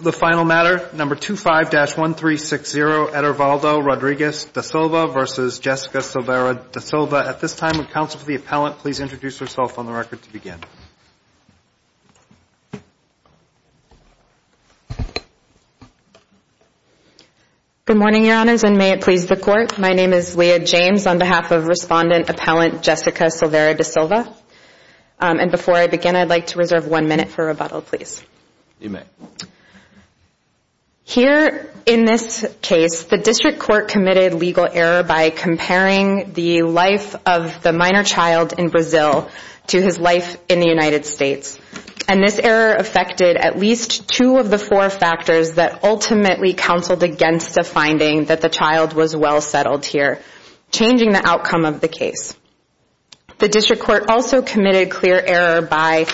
The final matter, number 25-1360, Edervaldo Rodriguez da Silva versus Jessica Silveira da Silva. At this time, would counsel for the appellant please introduce herself on the record to Good morning, Your Honors, and may it please the Court. My name is Leah James on behalf of Respondent Appellant Jessica Silveira da Silva. And before I begin, I'd like to reserve one minute for rebuttal, please. You may. Here in this case, the District Court committed legal error by comparing the life of the minor child in Brazil to his life in the United States. And this error affected at least two of the four factors that ultimately counseled against the finding that the child was well settled here, changing the outcome of the case. The District Court also committed clear error by,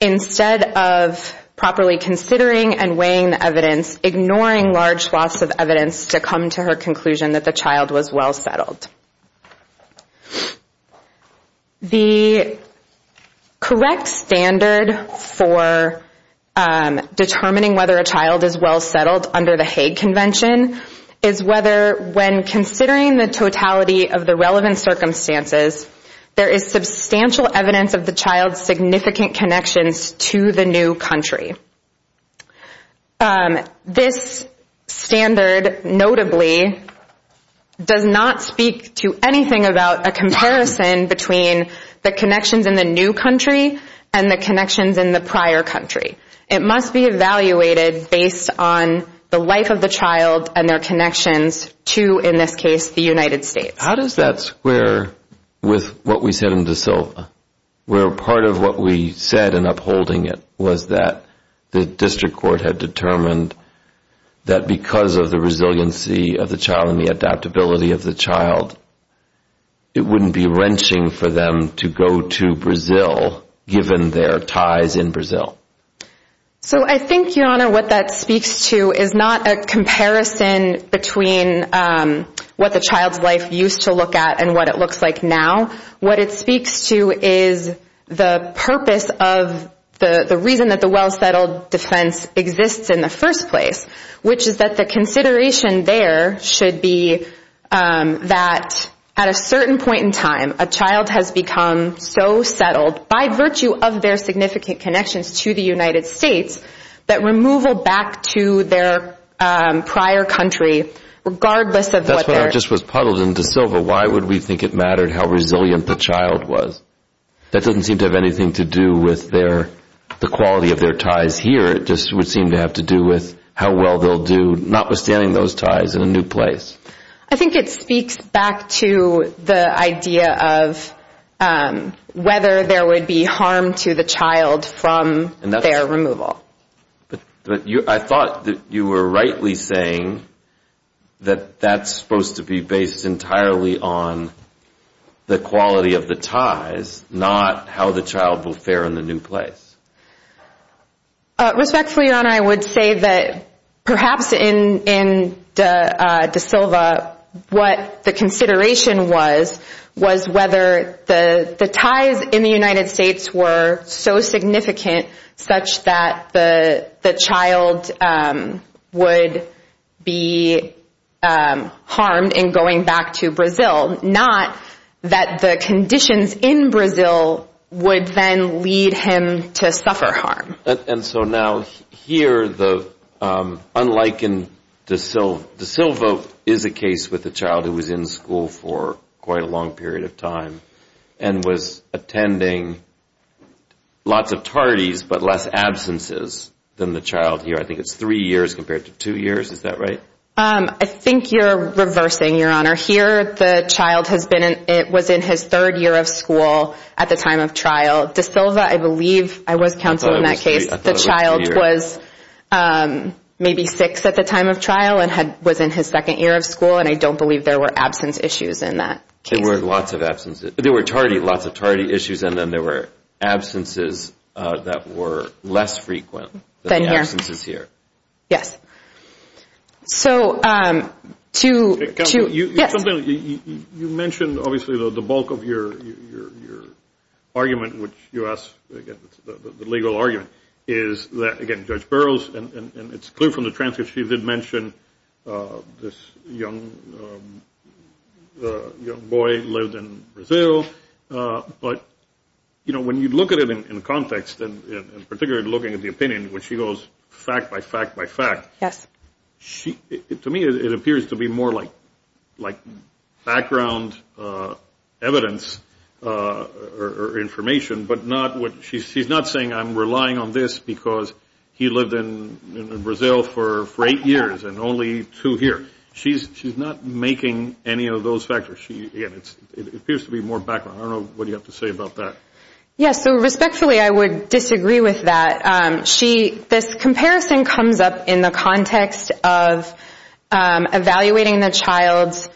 instead of properly considering and weighing the evidence, ignoring large swaths of evidence to come to her conclusion that the child was well settled. The correct standard for determining whether a child is well settled under the Hague Convention is whether, when considering the totality of the relevant circumstances, there is substantial evidence of the child's significant connections to the new country. This standard, notably, does not speak to anything about a comparison between the connections in the new country and the connections in the prior country. It must be evaluated based on the life of the child and their connections to, in this case, the United States. How does that square with what we said in De Silva, where part of what we said in upholding it was that the District Court had determined that because of the resiliency of the child and the adaptability of the child, it wouldn't be wrenching for them to go to Brazil, given their ties in Brazil? So I think, Your Honor, what that speaks to is not a comparison between what the child's life used to look like and what it looks like now. What it speaks to is the purpose of the reason that the well settled defense exists in the first place, which is that the consideration there should be that at a certain point in time, a child has become so settled, by virtue of their significant connections to the United States, that removal back to their prior country, regardless of what their... That's what I just was puzzled in De Silva. Why would we think it mattered how resilient the child was? That doesn't seem to have anything to do with the quality of their ties here. It just would seem to have to do with how well they'll do, notwithstanding those ties, in a new place. I think it speaks back to the idea of whether there would be harm to the child from their removal. But I thought that you were rightly saying that that's supposed to be based entirely on the quality of the ties, not how the child will fare in the new place. Respectfully, Your Honor, I would say that perhaps in De Silva, what the consideration was, was whether the ties in the United States were so significant, such that the child would be harmed in going back to Brazil. Not that the conditions in Brazil would then lead him to suffer harm. And so now, here, unlike in De Silva, De Silva is a case with a child who was in school for quite a long period of time, and was attending lots of parties, but less absences than the child here. I think it's three years compared to two years. Is that right? I think you're reversing, Your Honor. Here, the child was in his third year of school at the time of trial. De Silva, I believe, I was counsel in that case, the child was maybe six at the time of trial and was in his second year of school, and I don't believe there were absence issues in that case. There were lots of absences. There were lots of tardy issues, and then there were absences that were less frequent than the absences here. Yes. So to – Counsel, you mentioned, obviously, the bulk of your argument, which you asked, the legal argument, is that, again, Judge Burroughs, and it's clear from the transcript she did mention this young boy lived in Brazil, but, you know, when you look at it in context, and particularly looking at the opinion, when she goes fact by fact by fact, to me it appears to be more like background evidence or information, but not what – she's not saying I'm relying on this because he lived in Brazil for eight years and only two here. She's not making any of those factors. Again, it appears to be more background. I don't know what you have to say about that. Yes. So respectfully, I would disagree with that. She – this comparison comes up in the context of evaluating the child's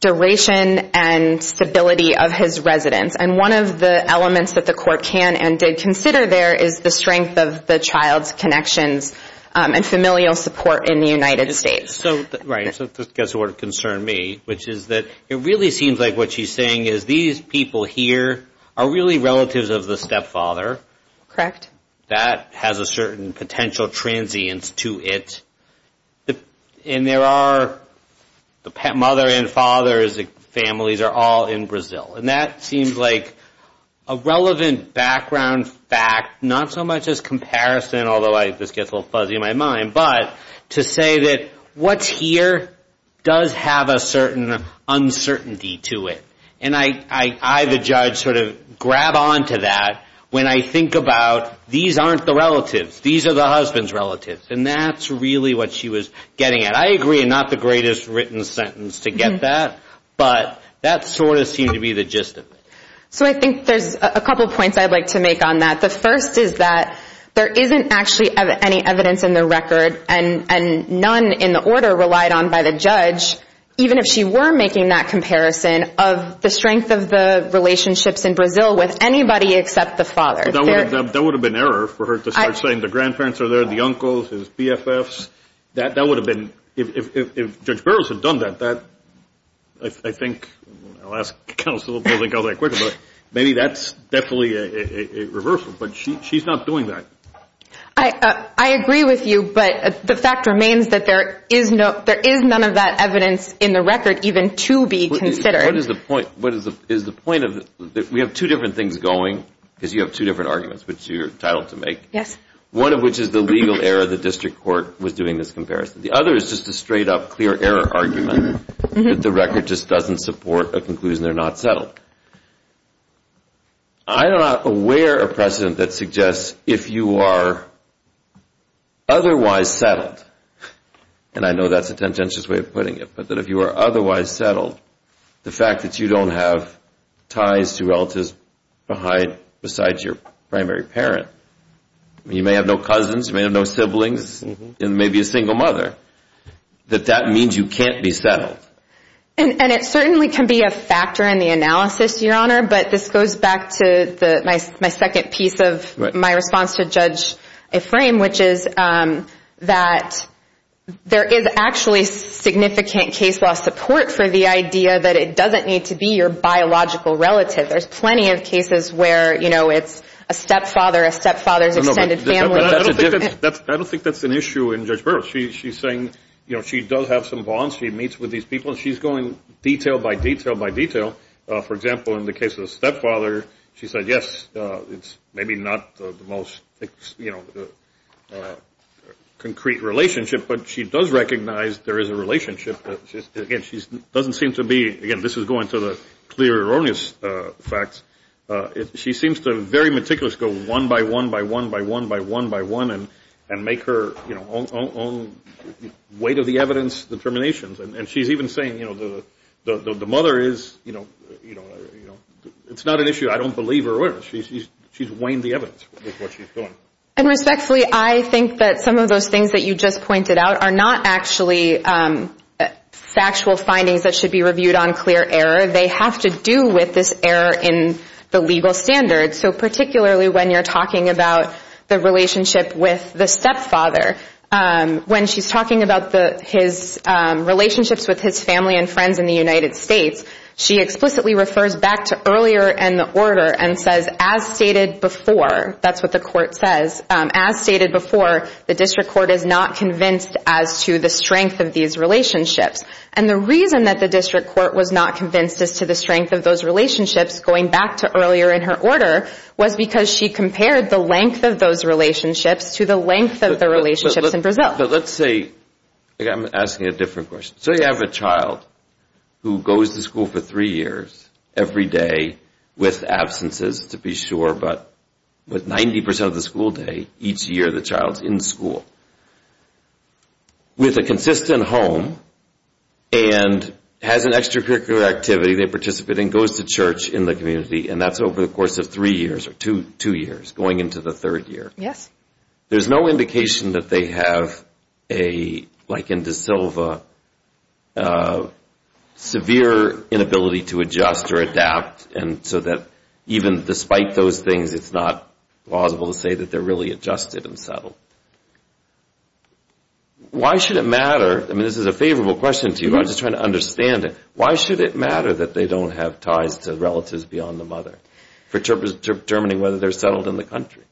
duration and stability of his residence, and one of the elements that the court can and did consider there is the strength of the child's connections and familial support in the United States. Right. So this gets to what concerned me, which is that it really seems like what she's saying is these people here are really relatives of the stepfather. Correct. That has a certain potential transience to it, and there are the mother and father's families are all in Brazil, and that seems like a relevant background fact, not so much as comparison, although this gets a little fuzzy in my mind, but to say that what's here does have a certain uncertainty to it, and I, the judge, sort of grab onto that when I think about these aren't the relatives. These are the husband's relatives, and that's really what she was getting at. I agree. Not the greatest written sentence to get that, but that sort of seemed to be the gist of it. So I think there's a couple points I'd like to make on that. The first is that there isn't actually any evidence in the record and none in the order relied on by the judge, even if she were making that comparison of the strength of the relationships in Brazil with anybody except the father. That would have been an error for her to start saying the grandparents are there, the uncles, his BFFs. That would have been, if Judge Burroughs had done that, I think I'll ask counsel if they'll think I was that quick, but maybe that's definitely a reversal, but she's not doing that. I agree with you, but the fact remains that there is none of that evidence in the record even to be considered. What is the point? We have two different things going because you have two different arguments, which you're entitled to make. Yes. One of which is the legal error the district court was doing this comparison. The other is just a straight-up clear error argument that the record just doesn't support a conclusion they're not settled. I'm not aware of precedent that suggests if you are otherwise settled, and I know that's a tempting way of putting it, but that if you are otherwise settled, the fact that you don't have ties to relatives besides your primary parent, you may have no cousins, you may have no siblings, and maybe a single mother, that that means you can't be settled. It certainly can be a factor in the analysis, Your Honor, but this goes back to my second piece of my response to Judge Ephraim, which is that there is actually significant case law support for the idea that it doesn't need to be your biological relative. There's plenty of cases where it's a stepfather, a stepfather's extended family. I don't think that's an issue in Judge Burroughs. She's saying she does have some bonds. She meets with these people, and she's going detail by detail by detail. For example, in the case of the stepfather, she said, yes, it's maybe not the most concrete relationship, but she does recognize there is a relationship. Again, this is going to the clear erroneous facts. She seems to very meticulously go one by one by one by one by one by one and make her own weight of the evidence determinations. And she's even saying, you know, the mother is, you know, it's not an issue. I don't believe her. She's weighing the evidence with what she's doing. And respectfully, I think that some of those things that you just pointed out are not actually factual findings that should be reviewed on clear error. They have to do with this error in the legal standards, so particularly when you're talking about the relationship with the stepfather. When she's talking about his relationships with his family and friends in the United States, she explicitly refers back to earlier in the order and says, as stated before, that's what the court says, as stated before, the district court is not convinced as to the strength of these relationships. And the reason that the district court was not convinced as to the strength of those relationships going back to earlier in her order was because she compared the length of those relationships to the length of the relationships in Brazil. But let's say, I'm asking a different question. So you have a child who goes to school for three years every day with absences, to be sure, but with 90% of the school day each year the child's in school with a consistent home and has an extracurricular activity they participate in, goes to church in the community, and that's over the course of three years or two years, going into the third year. There's no indication that they have a, like in De Silva, severe inability to adjust or adapt, and so that even despite those things it's not plausible to say that they're really adjusted and settled. Why should it matter, I mean this is a favorable question to you, I'm just trying to understand it, why should it matter that they don't have ties to relatives beyond the mother for determining whether they're settled in the country?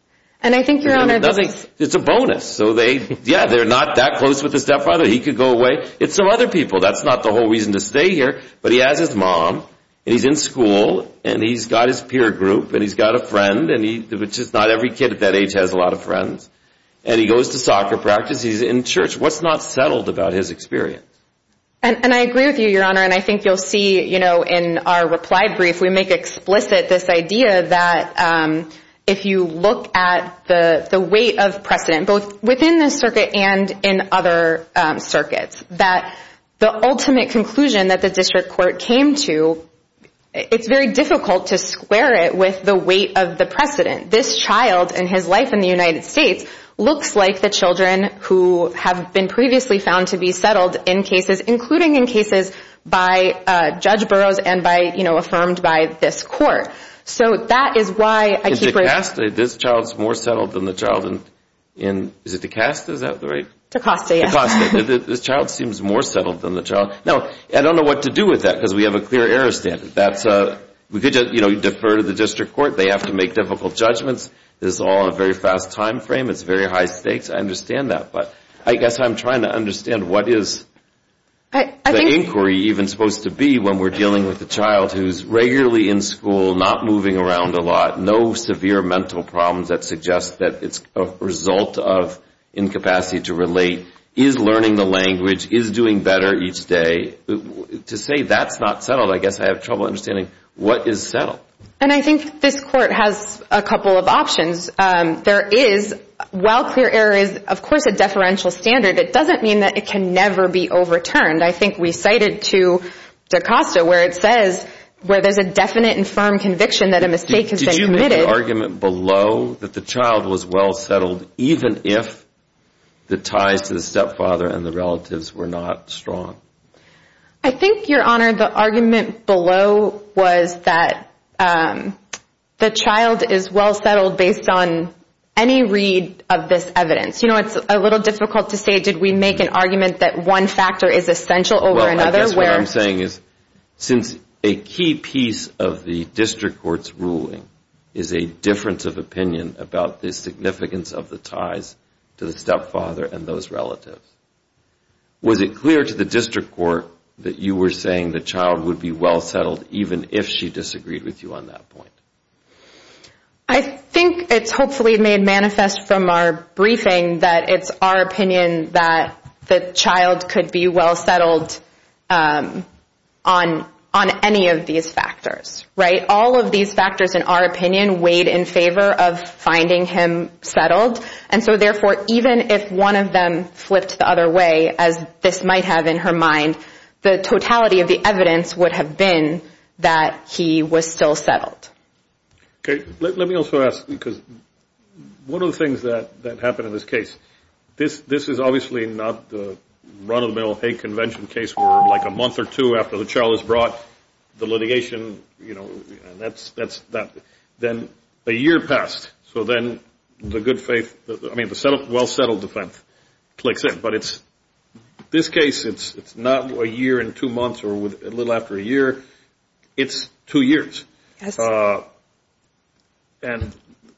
And I think, Your Honor, this is... It's a bonus, so they, yeah, they're not that close with the stepfather, he could go away, it's some other people, that's not the whole reason to stay here, but he has his mom, and he's in school, and he's got his peer group, and he's got a friend, which is not every kid at that age has a lot of friends, and he goes to soccer practice, he's in church, what's not settled about his experience? And I agree with you, Your Honor, and I think you'll see in our reply brief we make explicit this idea that if you look at the weight of precedent, both within the circuit and in other circuits, that the ultimate conclusion that the district court came to, it's very difficult to square it with the weight of the precedent. This child and his life in the United States looks like the children who have been previously found to be settled in cases, including in cases by Judge Burroughs and by, you know, affirmed by this court. So that is why I keep... In Tecosta, this child's more settled than the child in... Is it Tecosta? Is that the right... Tecosta, yes. Tecosta, this child seems more settled than the child. Now, I don't know what to do with that because we have a clear error standard. We could defer to the district court. They have to make difficult judgments. This is all a very fast time frame. It's very high stakes. I understand that. But I guess I'm trying to understand what is the inquiry even supposed to be when we're dealing with a child who's regularly in school, not moving around a lot, no severe mental problems that suggest that it's a result of incapacity to relate, is learning the language, is doing better each day. To say that's not settled, I guess I have trouble understanding what is settled. And I think this court has a couple of options. There is, while clear error is, of course, a deferential standard, it doesn't mean that it can never be overturned. I think we cited to Tecosta where it says where there's a definite and firm conviction that a mistake has been committed. Did you make the argument below that the child was well settled even if the ties to the stepfather and the relatives were not strong? I think, Your Honor, the argument below was that the child is well settled based on any read of this evidence. You know, it's a little difficult to say did we make an argument that one factor is essential over another. Well, I guess what I'm saying is since a key piece of the district court's ruling is a difference of opinion about the significance of the ties to the stepfather and those relatives, was it clear to the district court that you were saying the child would be well settled even if she disagreed with you on that point? I think it's hopefully made manifest from our briefing that it's our opinion that the child could be well settled on any of these factors. Right? All of these factors, in our opinion, weighed in favor of finding him settled. And so, therefore, even if one of them flipped the other way, as this might have in her mind, the totality of the evidence would have been that he was still settled. Okay. Let me also ask because one of the things that happened in this case, this is obviously not the run-of-the-mill hate convention case for like a month or two after the child was brought, the litigation, you know, and then a year passed. So then the good faith, I mean the well settled defense clicks in. But this case, it's not a year and two months or a little after a year. It's two years. Yes. And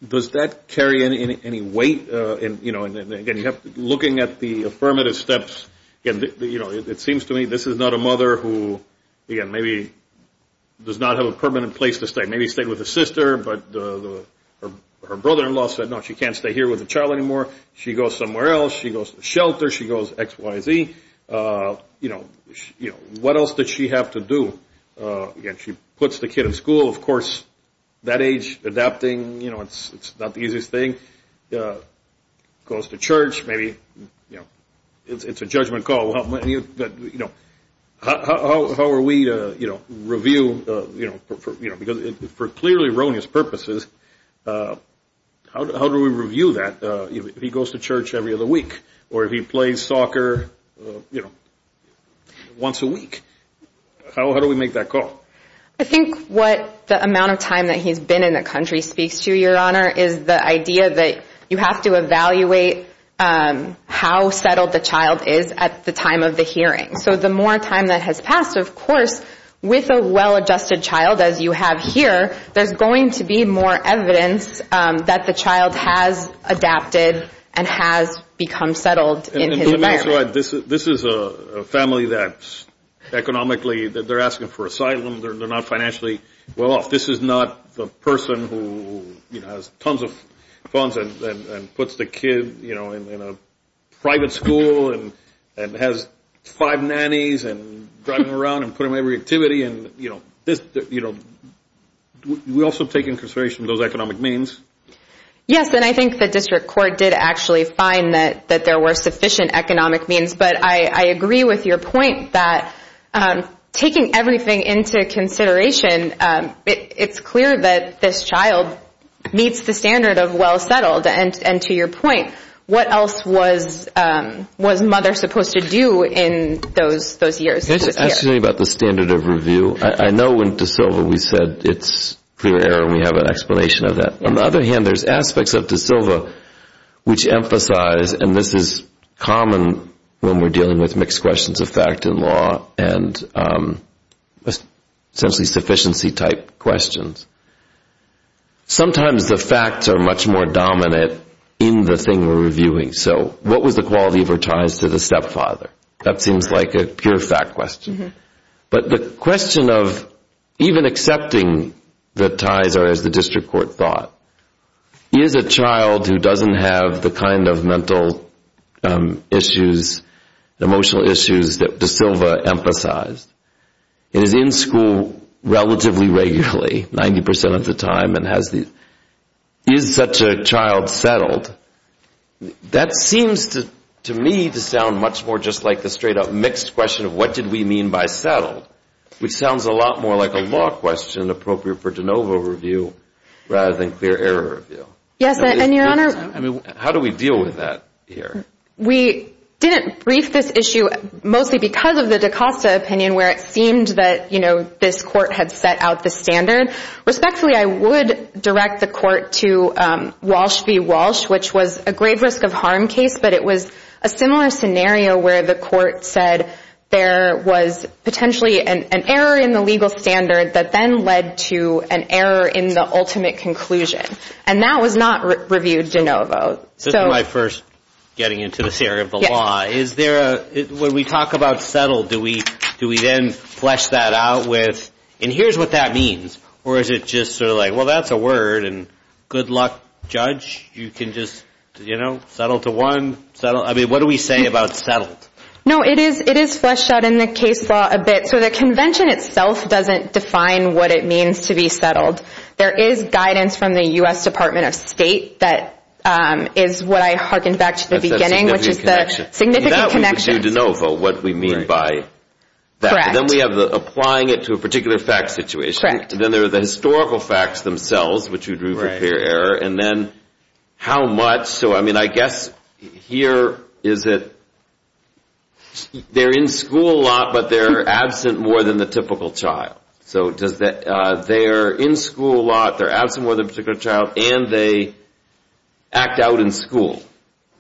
does that carry any weight? And, again, looking at the affirmative steps, you know, it seems to me this is not a mother who, again, maybe does not have a permanent place to stay. Maybe stayed with a sister, but her brother-in-law said, no, she can't stay here with the child anymore. She goes somewhere else. She goes to the shelter. She goes X, Y, Z. You know, what else did she have to do? Again, she puts the kid in school. Of course, that age, adapting, you know, it's not the easiest thing. Goes to church. Maybe, you know, it's a judgment call. How are we to, you know, review, you know, because for clearly erroneous purposes, how do we review that? If he goes to church every other week or if he plays soccer, you know, once a week, how do we make that call? I think what the amount of time that he's been in the country speaks to, Your Honor, is the idea that you have to evaluate how settled the child is at the time of the hearing. So the more time that has passed, of course, with a well-adjusted child, as you have here, there's going to be more evidence that the child has adapted and has become settled in his marriage. This is a family that economically they're asking for asylum. They're not financially well off. This is not the person who, you know, has tons of funds and puts the kid, you know, in a private school and has five nannies and driving around and putting them in every activity. You know, we also take into consideration those economic means. Yes, and I think the district court did actually find that there were sufficient economic means. But I agree with your point that taking everything into consideration, it's clear that this child meets the standard of well-settled. And to your point, what else was mother supposed to do in those years? It's actually about the standard of review. I know in De Silva we said it's clear error and we have an explanation of that. On the other hand, there's aspects of De Silva which emphasize, and this is common when we're dealing with mixed questions of fact and law and essentially sufficiency type questions. Sometimes the facts are much more dominant in the thing we're reviewing. So what was the quality of her ties to the stepfather? That seems like a pure fact question. But the question of even accepting the ties or as the district court thought, is a child who doesn't have the kind of mental issues, emotional issues that De Silva emphasized, is in school relatively regularly, 90% of the time, and is such a child settled, that seems to me to sound much more just like the straight-up mixed question of what did we mean by settled, which sounds a lot more like a law question appropriate for de novo review rather than clear error review. How do we deal with that here? We didn't brief this issue mostly because of the DaCosta opinion where it seemed that this court had set out the standard. Respectfully, I would direct the court to Walsh v. Walsh, which was a grave risk of harm case, but it was a similar scenario where the court said there was potentially an error in the legal standard that then led to an error in the ultimate conclusion. And that was not reviewed de novo. This is my first getting into this area of the law. When we talk about settled, do we then flesh that out with, and here's what that means, or is it just sort of like, well, that's a word and good luck, judge. You can just, you know, settle to one. I mean, what do we say about settled? No, it is fleshed out in the case law a bit. So the convention itself doesn't define what it means to be settled. There is guidance from the U.S. Department of State that is what I hearkened back to at the beginning, which is the significant connection. That we would do de novo, what we mean by that. Correct. And then we have applying it to a particular fact situation. Correct. And then there are the historical facts themselves, which you drew from clear error, and then how much. So, I mean, I guess here is that they're in school a lot, but they're absent more than the typical child. So they're in school a lot, they're absent more than a particular child, and they act out in school.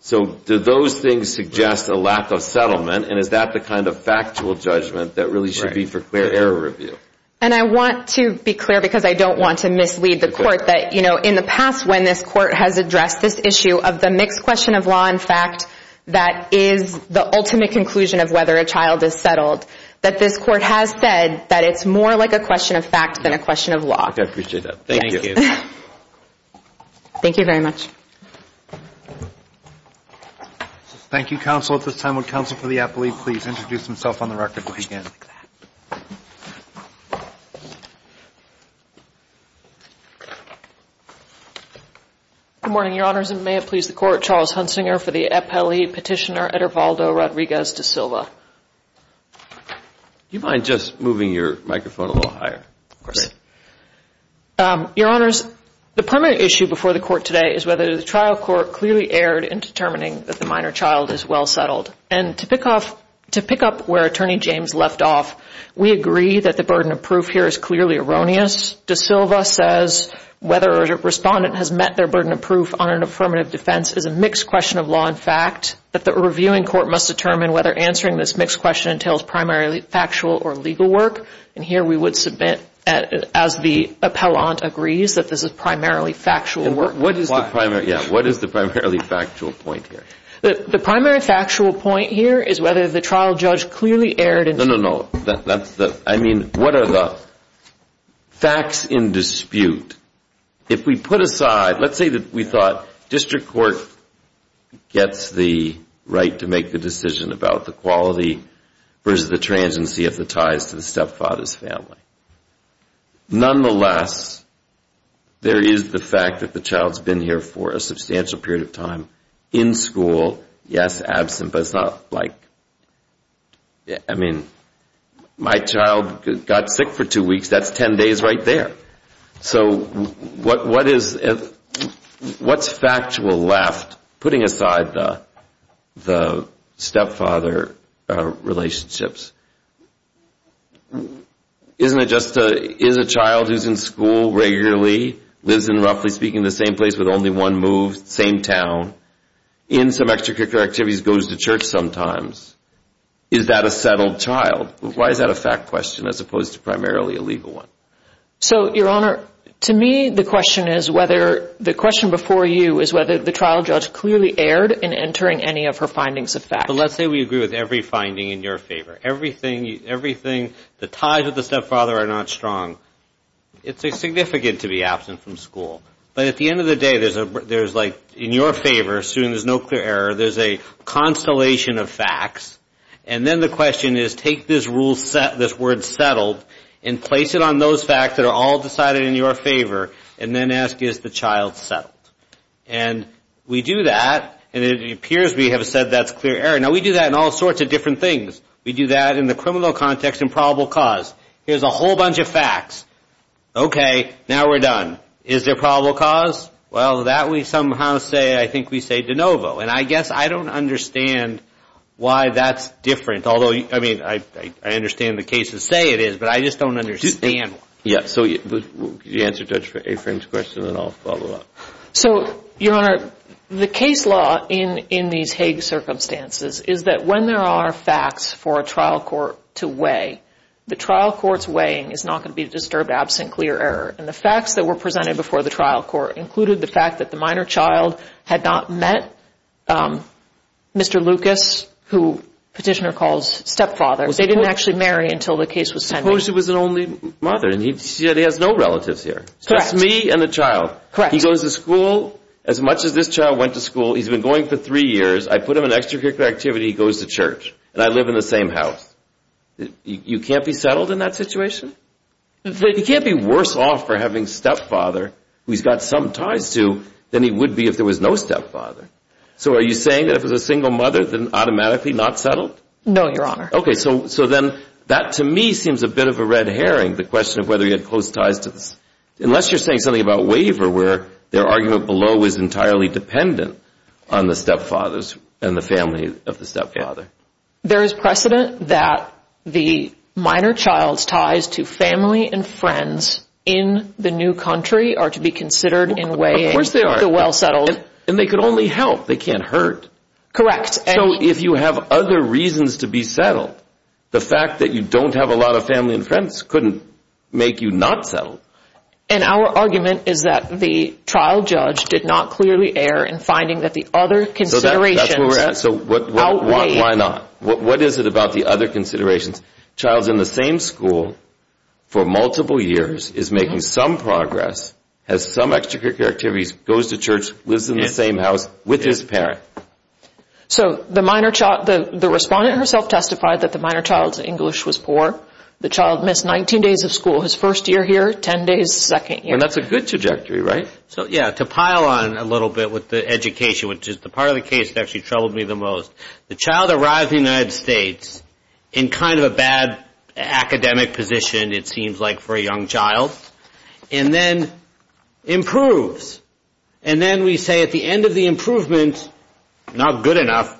So do those things suggest a lack of settlement, and is that the kind of factual judgment that really should be for clear error review? And I want to be clear, because I don't want to mislead the court, that in the past when this court has addressed this issue of the mixed question of law and fact that is the ultimate conclusion of whether a child is settled, that this court has said that it's more like a question of fact than a question of law. Okay, I appreciate that. Thank you. Thank you. Thank you very much. Thank you, counsel. At this time, would counsel for the appellee please introduce himself on the record again? Good morning, Your Honors, and may it please the Court, Charles Hunsinger for the appellee, Petitioner Edervaldo Rodriguez da Silva. Do you mind just moving your microphone a little higher? Of course. Your Honors, the primary issue before the Court today is whether the trial court clearly erred in determining that the minor child is well settled. And to pick up where Attorney James left off, we agree that the burden of proof here is clearly erroneous. Da Silva says whether a respondent has met their burden of proof on an affirmative defense is a mixed question of law and fact, that the reviewing court must determine whether answering this mixed question entails primarily factual or legal work. And here we would submit, as the appellant agrees, that this is primarily factual work. What is the primarily factual point here? The primary factual point here is whether the trial judge clearly erred in No, no, no. I mean, what are the facts in dispute? If we put aside, let's say that we thought district court gets the right to make the decision about the quality versus the transiency of the ties to the stepfather's family. Nonetheless, there is the fact that the child's been here for a substantial period of time in school. Yes, absent, but it's not like, I mean, my child got sick for two weeks. That's ten days right there. So what's factual left, putting aside the stepfather relationships? Isn't it just, is a child who's in school regularly, lives in, roughly speaking, the same place with only one move, same town, in some extracurricular activities, goes to church sometimes, is that a settled child? Why is that a fact question as opposed to primarily a legal one? So, Your Honor, to me the question is whether, the question before you is whether the trial judge clearly erred in entering any of her findings of fact. But let's say we agree with every finding in your favor. Everything, the ties with the stepfather are not strong. It's significant to be absent from school. But at the end of the day, there's like, in your favor, assuming there's no clear error, there's a constellation of facts. And then the question is, take this rule set, this word settled, and place it on those facts that are all decided in your favor, and then ask, is the child settled? And we do that, and it appears we have said that's clear error. Now, we do that in all sorts of different things. We do that in the criminal context and probable cause. Here's a whole bunch of facts. Okay, now we're done. Is there probable cause? Well, that we somehow say, I think we say de novo. And I guess I don't understand why that's different. Although, I mean, I understand the cases say it is, but I just don't understand. Yeah, so could you answer Judge Afrin's question, and then I'll follow up? So, Your Honor, the case law in these Hague circumstances is that when there are facts for a trial court to weigh, the trial court's weighing is not going to be disturbed absent clear error. And the facts that were presented before the trial court included the fact that the minor child had not met Mr. Lucas, who Petitioner calls stepfather. They didn't actually marry until the case was sent. Suppose it was an only mother, and he said he has no relatives here. Correct. Just me and the child. Correct. He goes to school. As much as this child went to school, he's been going for three years. I put him in extracurricular activity. He goes to church, and I live in the same house. You can't be settled in that situation? You can't be worse off for having stepfather who he's got some ties to than he would be if there was no stepfather. So are you saying that if it was a single mother, then automatically not settled? No, Your Honor. Okay, so then that, to me, seems a bit of a red herring, the question of whether he had close ties to this. Unless you're saying something about waiver where their argument below is entirely dependent on the stepfathers and the family of the stepfather. There is precedent that the minor child's ties to family and friends in the new country are to be considered in weighing the well-settled. And they could only help. They can't hurt. Correct. So if you have other reasons to be settled, the fact that you don't have a lot of family and friends couldn't make you not settled. And our argument is that the trial judge did not clearly err in finding that the other considerations outweighed. That's where we're at. So why not? What is it about the other considerations? Child's in the same school for multiple years, is making some progress, has some extracurricular activities, goes to church, lives in the same house with his parent. So the minor child, the respondent herself testified that the minor child's English was poor. The child missed 19 days of school. His first year here, 10 days the second year. And that's a good trajectory, right? So, yeah, to pile on a little bit with the education, which is the part of the case that actually troubled me the most, the child arrives in the United States in kind of a bad academic position, it seems like, for a young child, and then improves. And then we say at the end of the improvement, not good enough,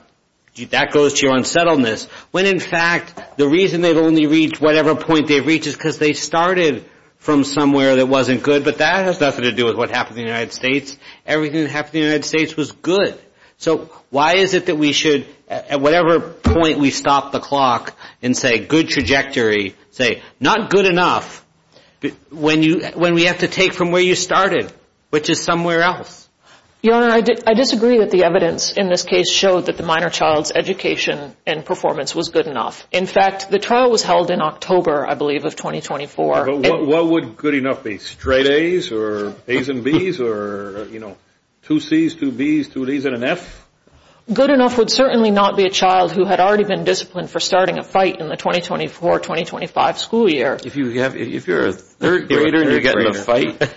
that goes to your unsettledness, when in fact the reason they've only reached whatever point they've reached is because they started from somewhere that wasn't good. But that has nothing to do with what happened in the United States. Everything that happened in the United States was good. So why is it that we should, at whatever point we stop the clock and say good trajectory, say not good enough, when we have to take from where you started, which is somewhere else? Your Honor, I disagree that the evidence in this case showed that the minor child's education and performance was good enough. In fact, the trial was held in October, I believe, of 2024. What would good enough be, straight A's or A's and B's or, you know, two C's, two B's, two D's and an F? Good enough would certainly not be a child who had already been disciplined for starting a fight in the 2024-2025 school year. If you're a third grader and you're getting in a fight,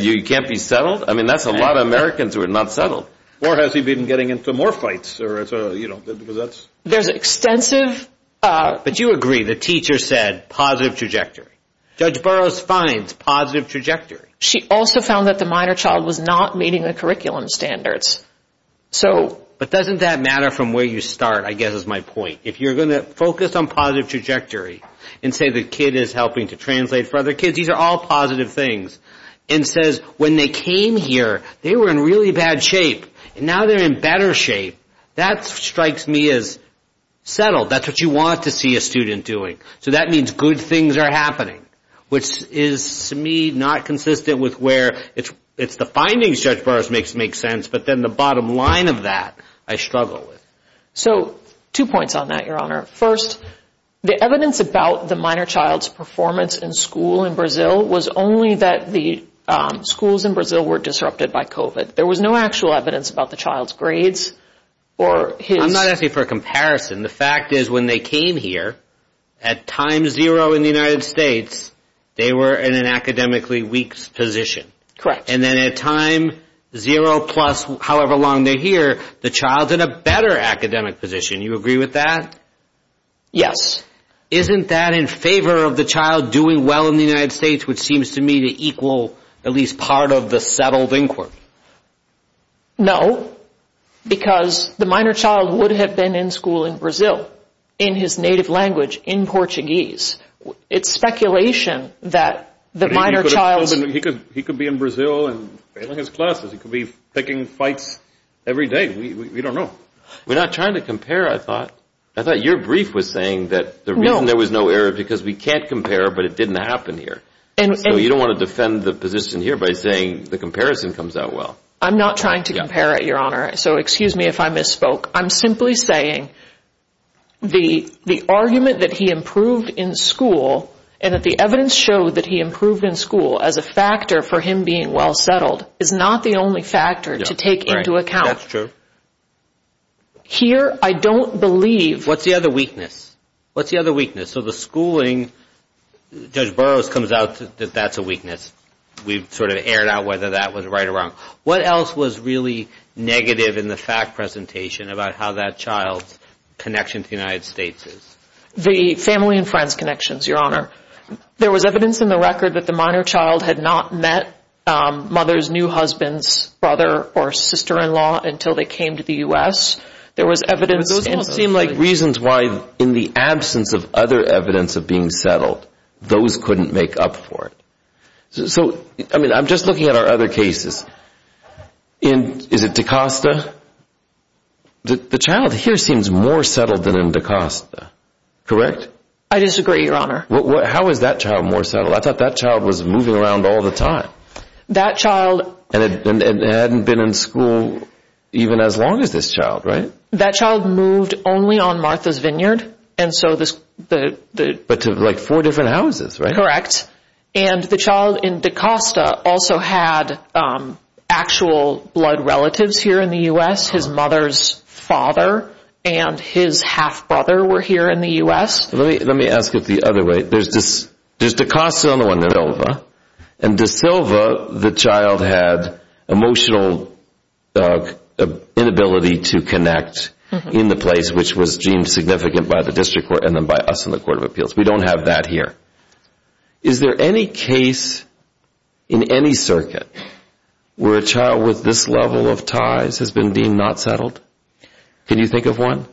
you can't be settled? I mean, that's a lot of Americans who are not settled. Or has he been getting into more fights? There's extensive... But you agree the teacher said positive trajectory. Judge Burroughs finds positive trajectory. She also found that the minor child was not meeting the curriculum standards. But doesn't that matter from where you start, I guess, is my point. If you're going to focus on positive trajectory and say the kid is helping to translate for other kids, these are all positive things, and says when they came here, they were in really bad shape. And now they're in better shape. That strikes me as settled. That's what you want to see a student doing. So that means good things are happening, which is to me not consistent with where it's the findings Judge Burroughs makes sense. But then the bottom line of that I struggle with. So two points on that, Your Honor. First, the evidence about the minor child's performance in school in Brazil was only that the schools in Brazil were disrupted by COVID. There was no actual evidence about the child's grades or his... I'm not asking for a comparison. The fact is when they came here, at time zero in the United States, they were in an academically weak position. Correct. And then at time zero plus however long they're here, the child's in a better academic position. You agree with that? Yes. Isn't that in favor of the child doing well in the United States, which seems to me to equal at least part of the settled inquiry? No, because the minor child would have been in school in Brazil in his native language, in Portuguese. It's speculation that the minor child's... He could be in Brazil and failing his classes. He could be picking fights every day. We don't know. We're not trying to compare, I thought. I thought your brief was saying that there was no error because we can't compare, but it didn't happen here. So you don't want to defend the position here by saying the comparison comes out well. I'm not trying to compare it, Your Honor, so excuse me if I misspoke. I'm simply saying the argument that he improved in school and that the evidence showed that he improved in school as a factor for him being well settled is not the only factor to take into account. That's true. Here, I don't believe... What's the other weakness? What's the other weakness? So the schooling, Judge Burroughs comes out that that's a weakness. We've sort of aired out whether that was right or wrong. What else was really negative in the fact presentation about how that child's connection to the United States is? The family and friends connections, Your Honor. There was evidence in the record that the minor child had not met mother's new husband's brother or sister-in-law until they came to the U.S. There was evidence... Those don't seem like reasons why, in the absence of other evidence of being settled, those couldn't make up for it. So, I mean, I'm just looking at our other cases. Is it DaCosta? The child here seems more settled than in DaCosta. Correct? I disagree, Your Honor. How is that child more settled? I thought that child was moving around all the time. That child... And it hadn't been in school even as long as this child, right? That child moved only on Martha's Vineyard, and so this... But to, like, four different houses, right? Correct. And the child in DaCosta also had actual blood relatives here in the U.S. His mother's father and his half-brother were here in the U.S. Let me ask it the other way. There's DaCosta on the one in Silva, and DaSilva, the child had emotional inability to connect in the place, which was deemed significant by the district court and then by us in the Court of Appeals. We don't have that here. Is there any case in any circuit where a child with this level of ties has been deemed not settled? Can you think of one?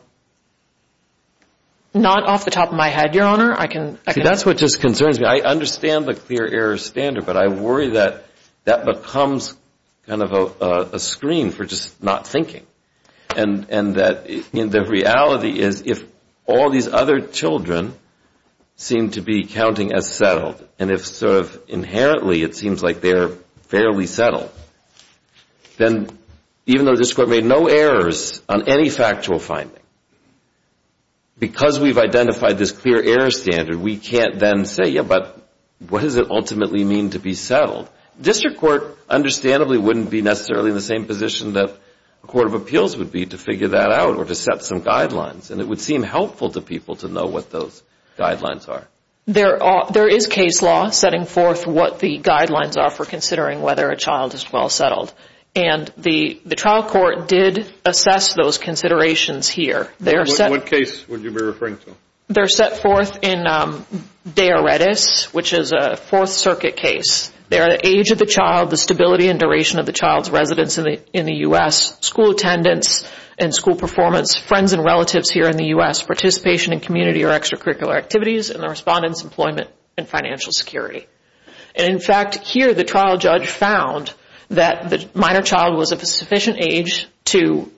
Not off the top of my head, Your Honor. I can... See, that's what just concerns me. I understand the clear error standard, but I worry that that becomes kind of a screen for just not thinking and that the reality is if all these other children seem to be counting as settled and if sort of inherently it seems like they're fairly settled, then even though the district court made no errors on any factual finding, because we've identified this clear error standard, we can't then say, yeah, but what does it ultimately mean to be settled? District court understandably wouldn't be necessarily in the same position that the Court of Appeals would be to figure that out or to set some guidelines, and it would seem helpful to people to know what those guidelines are. There is case law setting forth what the guidelines are for considering whether a child is well settled, and the trial court did assess those considerations here. What case would you be referring to? They're set forth in Dea Redis, which is a Fourth Circuit case. They are the age of the child, the stability and duration of the child's residence in the U.S., school attendance and school performance, friends and relatives here in the U.S., participation in community or extracurricular activities, and the respondent's employment and financial security. In fact, here the trial judge found that the minor child was of a sufficient age to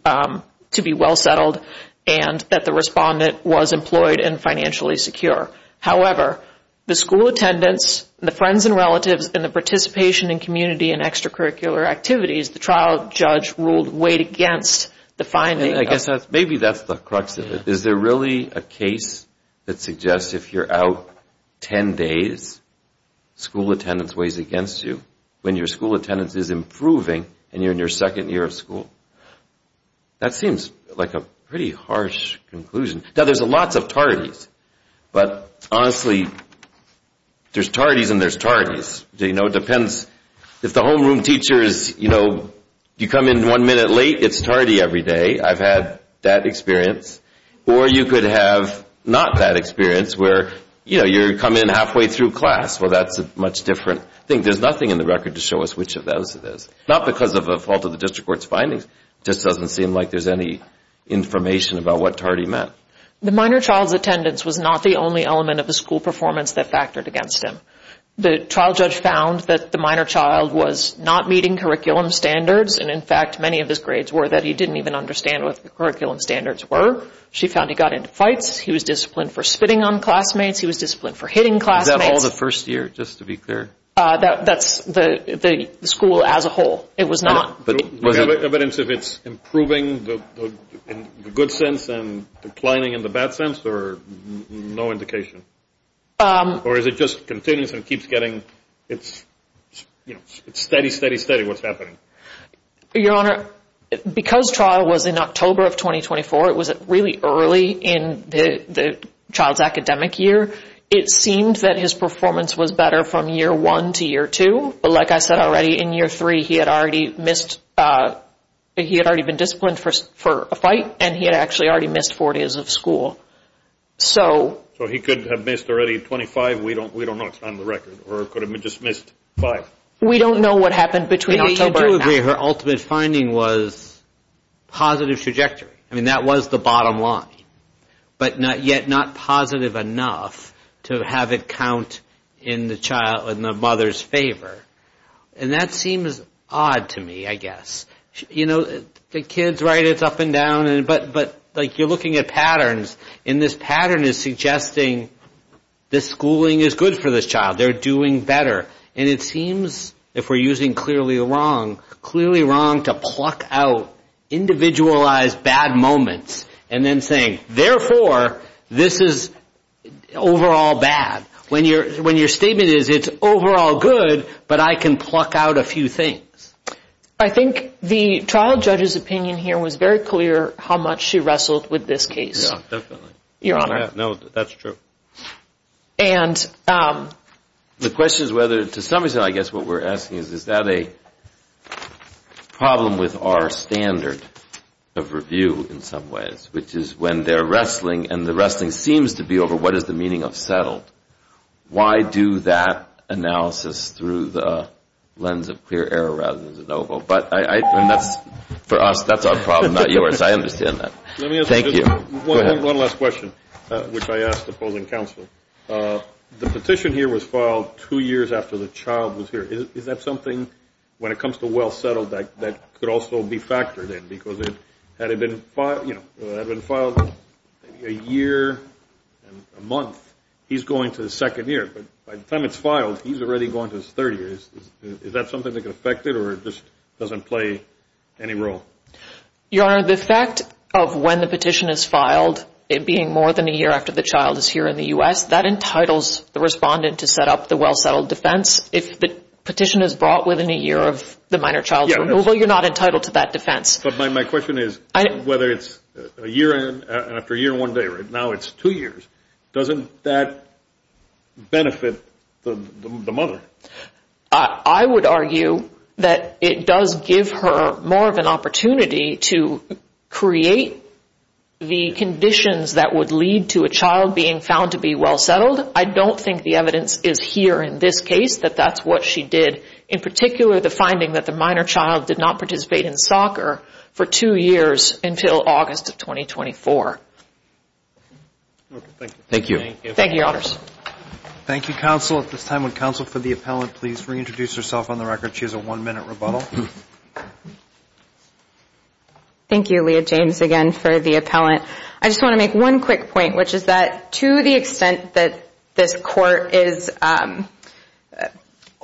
be well settled and that the respondent was employed and financially secure. However, the school attendance, the friends and relatives, and the participation in community and extracurricular activities, the trial judge ruled way against the finding. I guess maybe that's the crux of it. Is there really a case that suggests if you're out 10 days, school attendance weighs against you when your school attendance is improving and you're in your second year of school? That seems like a pretty harsh conclusion. Now, there's lots of tardies, but honestly, there's tardies and there's tardies. It depends. If the homeroom teacher is, you know, you come in one minute late, it's tardy every day. I've had that experience. Or you could have not that experience where, you know, you're coming in halfway through class. Well, that's a much different thing. There's nothing in the record to show us which of those it is. Not because of a fault of the district court's findings. It just doesn't seem like there's any information about what tardy meant. The minor child's attendance was not the only element of the school performance that factored against him. The trial judge found that the minor child was not meeting curriculum standards. And, in fact, many of his grades were that he didn't even understand what the curriculum standards were. She found he got into fights. He was disciplined for spitting on classmates. He was disciplined for hitting classmates. Is that all the first year, just to be clear? That's the school as a whole. It was not. Do we have evidence if it's improving in the good sense and declining in the bad sense? Or no indication? Or is it just continuous and keeps getting, you know, it's steady, steady, steady what's happening? Your Honor, because trial was in October of 2024, it was really early in the child's academic year, it seemed that his performance was better from year one to year two. But, like I said already, in year three he had already been disciplined for a fight, and he had actually already missed four days of school. So he could have missed already 25. We don't know. It's not on the record. Or could have just missed five. We don't know what happened between October and now. You do agree her ultimate finding was positive trajectory. I mean, that was the bottom line. But yet not positive enough to have it count in the mother's favor. And that seems odd to me, I guess. You know, the kid's right, it's up and down. But, like, you're looking at patterns, and this pattern is suggesting this schooling is good for this child. They're doing better. And it seems, if we're using clearly wrong, clearly wrong to pluck out individualized bad moments and then saying, therefore, this is overall bad. When your statement is, it's overall good, but I can pluck out a few things. I think the trial judge's opinion here was very clear how much she wrestled with this case. Yeah, definitely. Your Honor. No, that's true. And the question is whether, to some extent, I guess what we're asking is, is that a problem with our standard of review in some ways, which is when they're wrestling, and the wrestling seems to be over what is the meaning of settled, why do that analysis through the lens of clear error rather than de novo? But for us, that's our problem, not yours. I understand that. Thank you. Go ahead. One last question, which I asked the opposing counsel. The petition here was filed two years after the child was here. Is that something, when it comes to well settled, that could also be factored in? Because had it been filed a year, a month, he's going to the second year. But by the time it's filed, he's already going to his third year. Is that something that could affect it, or it just doesn't play any role? Your Honor, the fact of when the petition is filed, it being more than a year after the child is here in the U.S., that entitles the respondent to set up the well settled defense. If the petition is brought within a year of the minor child's removal, you're not entitled to that defense. But my question is, whether it's a year in and after a year one day, right now it's two years, doesn't that benefit the mother? I would argue that it does give her more of an opportunity to create the conditions that would lead to a child being found to be well settled. I don't think the evidence is here in this case that that's what she did. In particular, the finding that the minor child did not participate in soccer for two years until August of 2024. Thank you. Thank you, Your Honors. Thank you, counsel. At this time, would counsel for the appellant please reintroduce herself on the record? She has a one-minute rebuttal. Thank you, Leah James, again for the appellant. I just want to make one quick point, which is that to the extent that this court is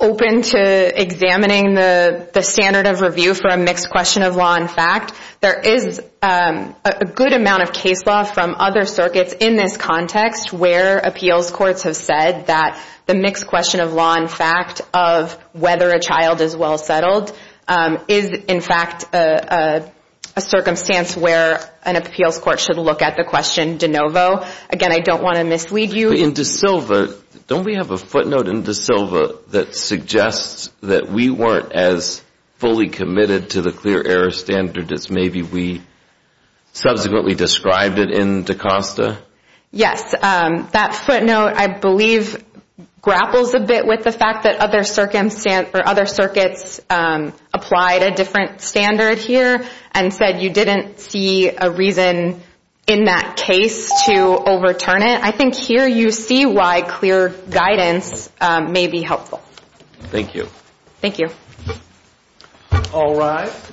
open to examining the standard of review for a mixed question of law and fact, there is a good amount of case law from other circuits in this context where appeals courts have said that the mixed question of law and fact of whether a child is well settled is, in fact, a circumstance where an appeals court should look at the question de novo. Again, I don't want to mislead you. In Da Silva, don't we have a footnote in Da Silva that suggests that we weren't as fully committed to the clear error standard as maybe we subsequently described it in Da Costa? Yes. That footnote, I believe, grapples a bit with the fact that other circuits applied a different standard here and said you didn't see a reason in that case to overturn it. I think here you see why clear guidance may be helpful. Thank you. Thank you. All rise.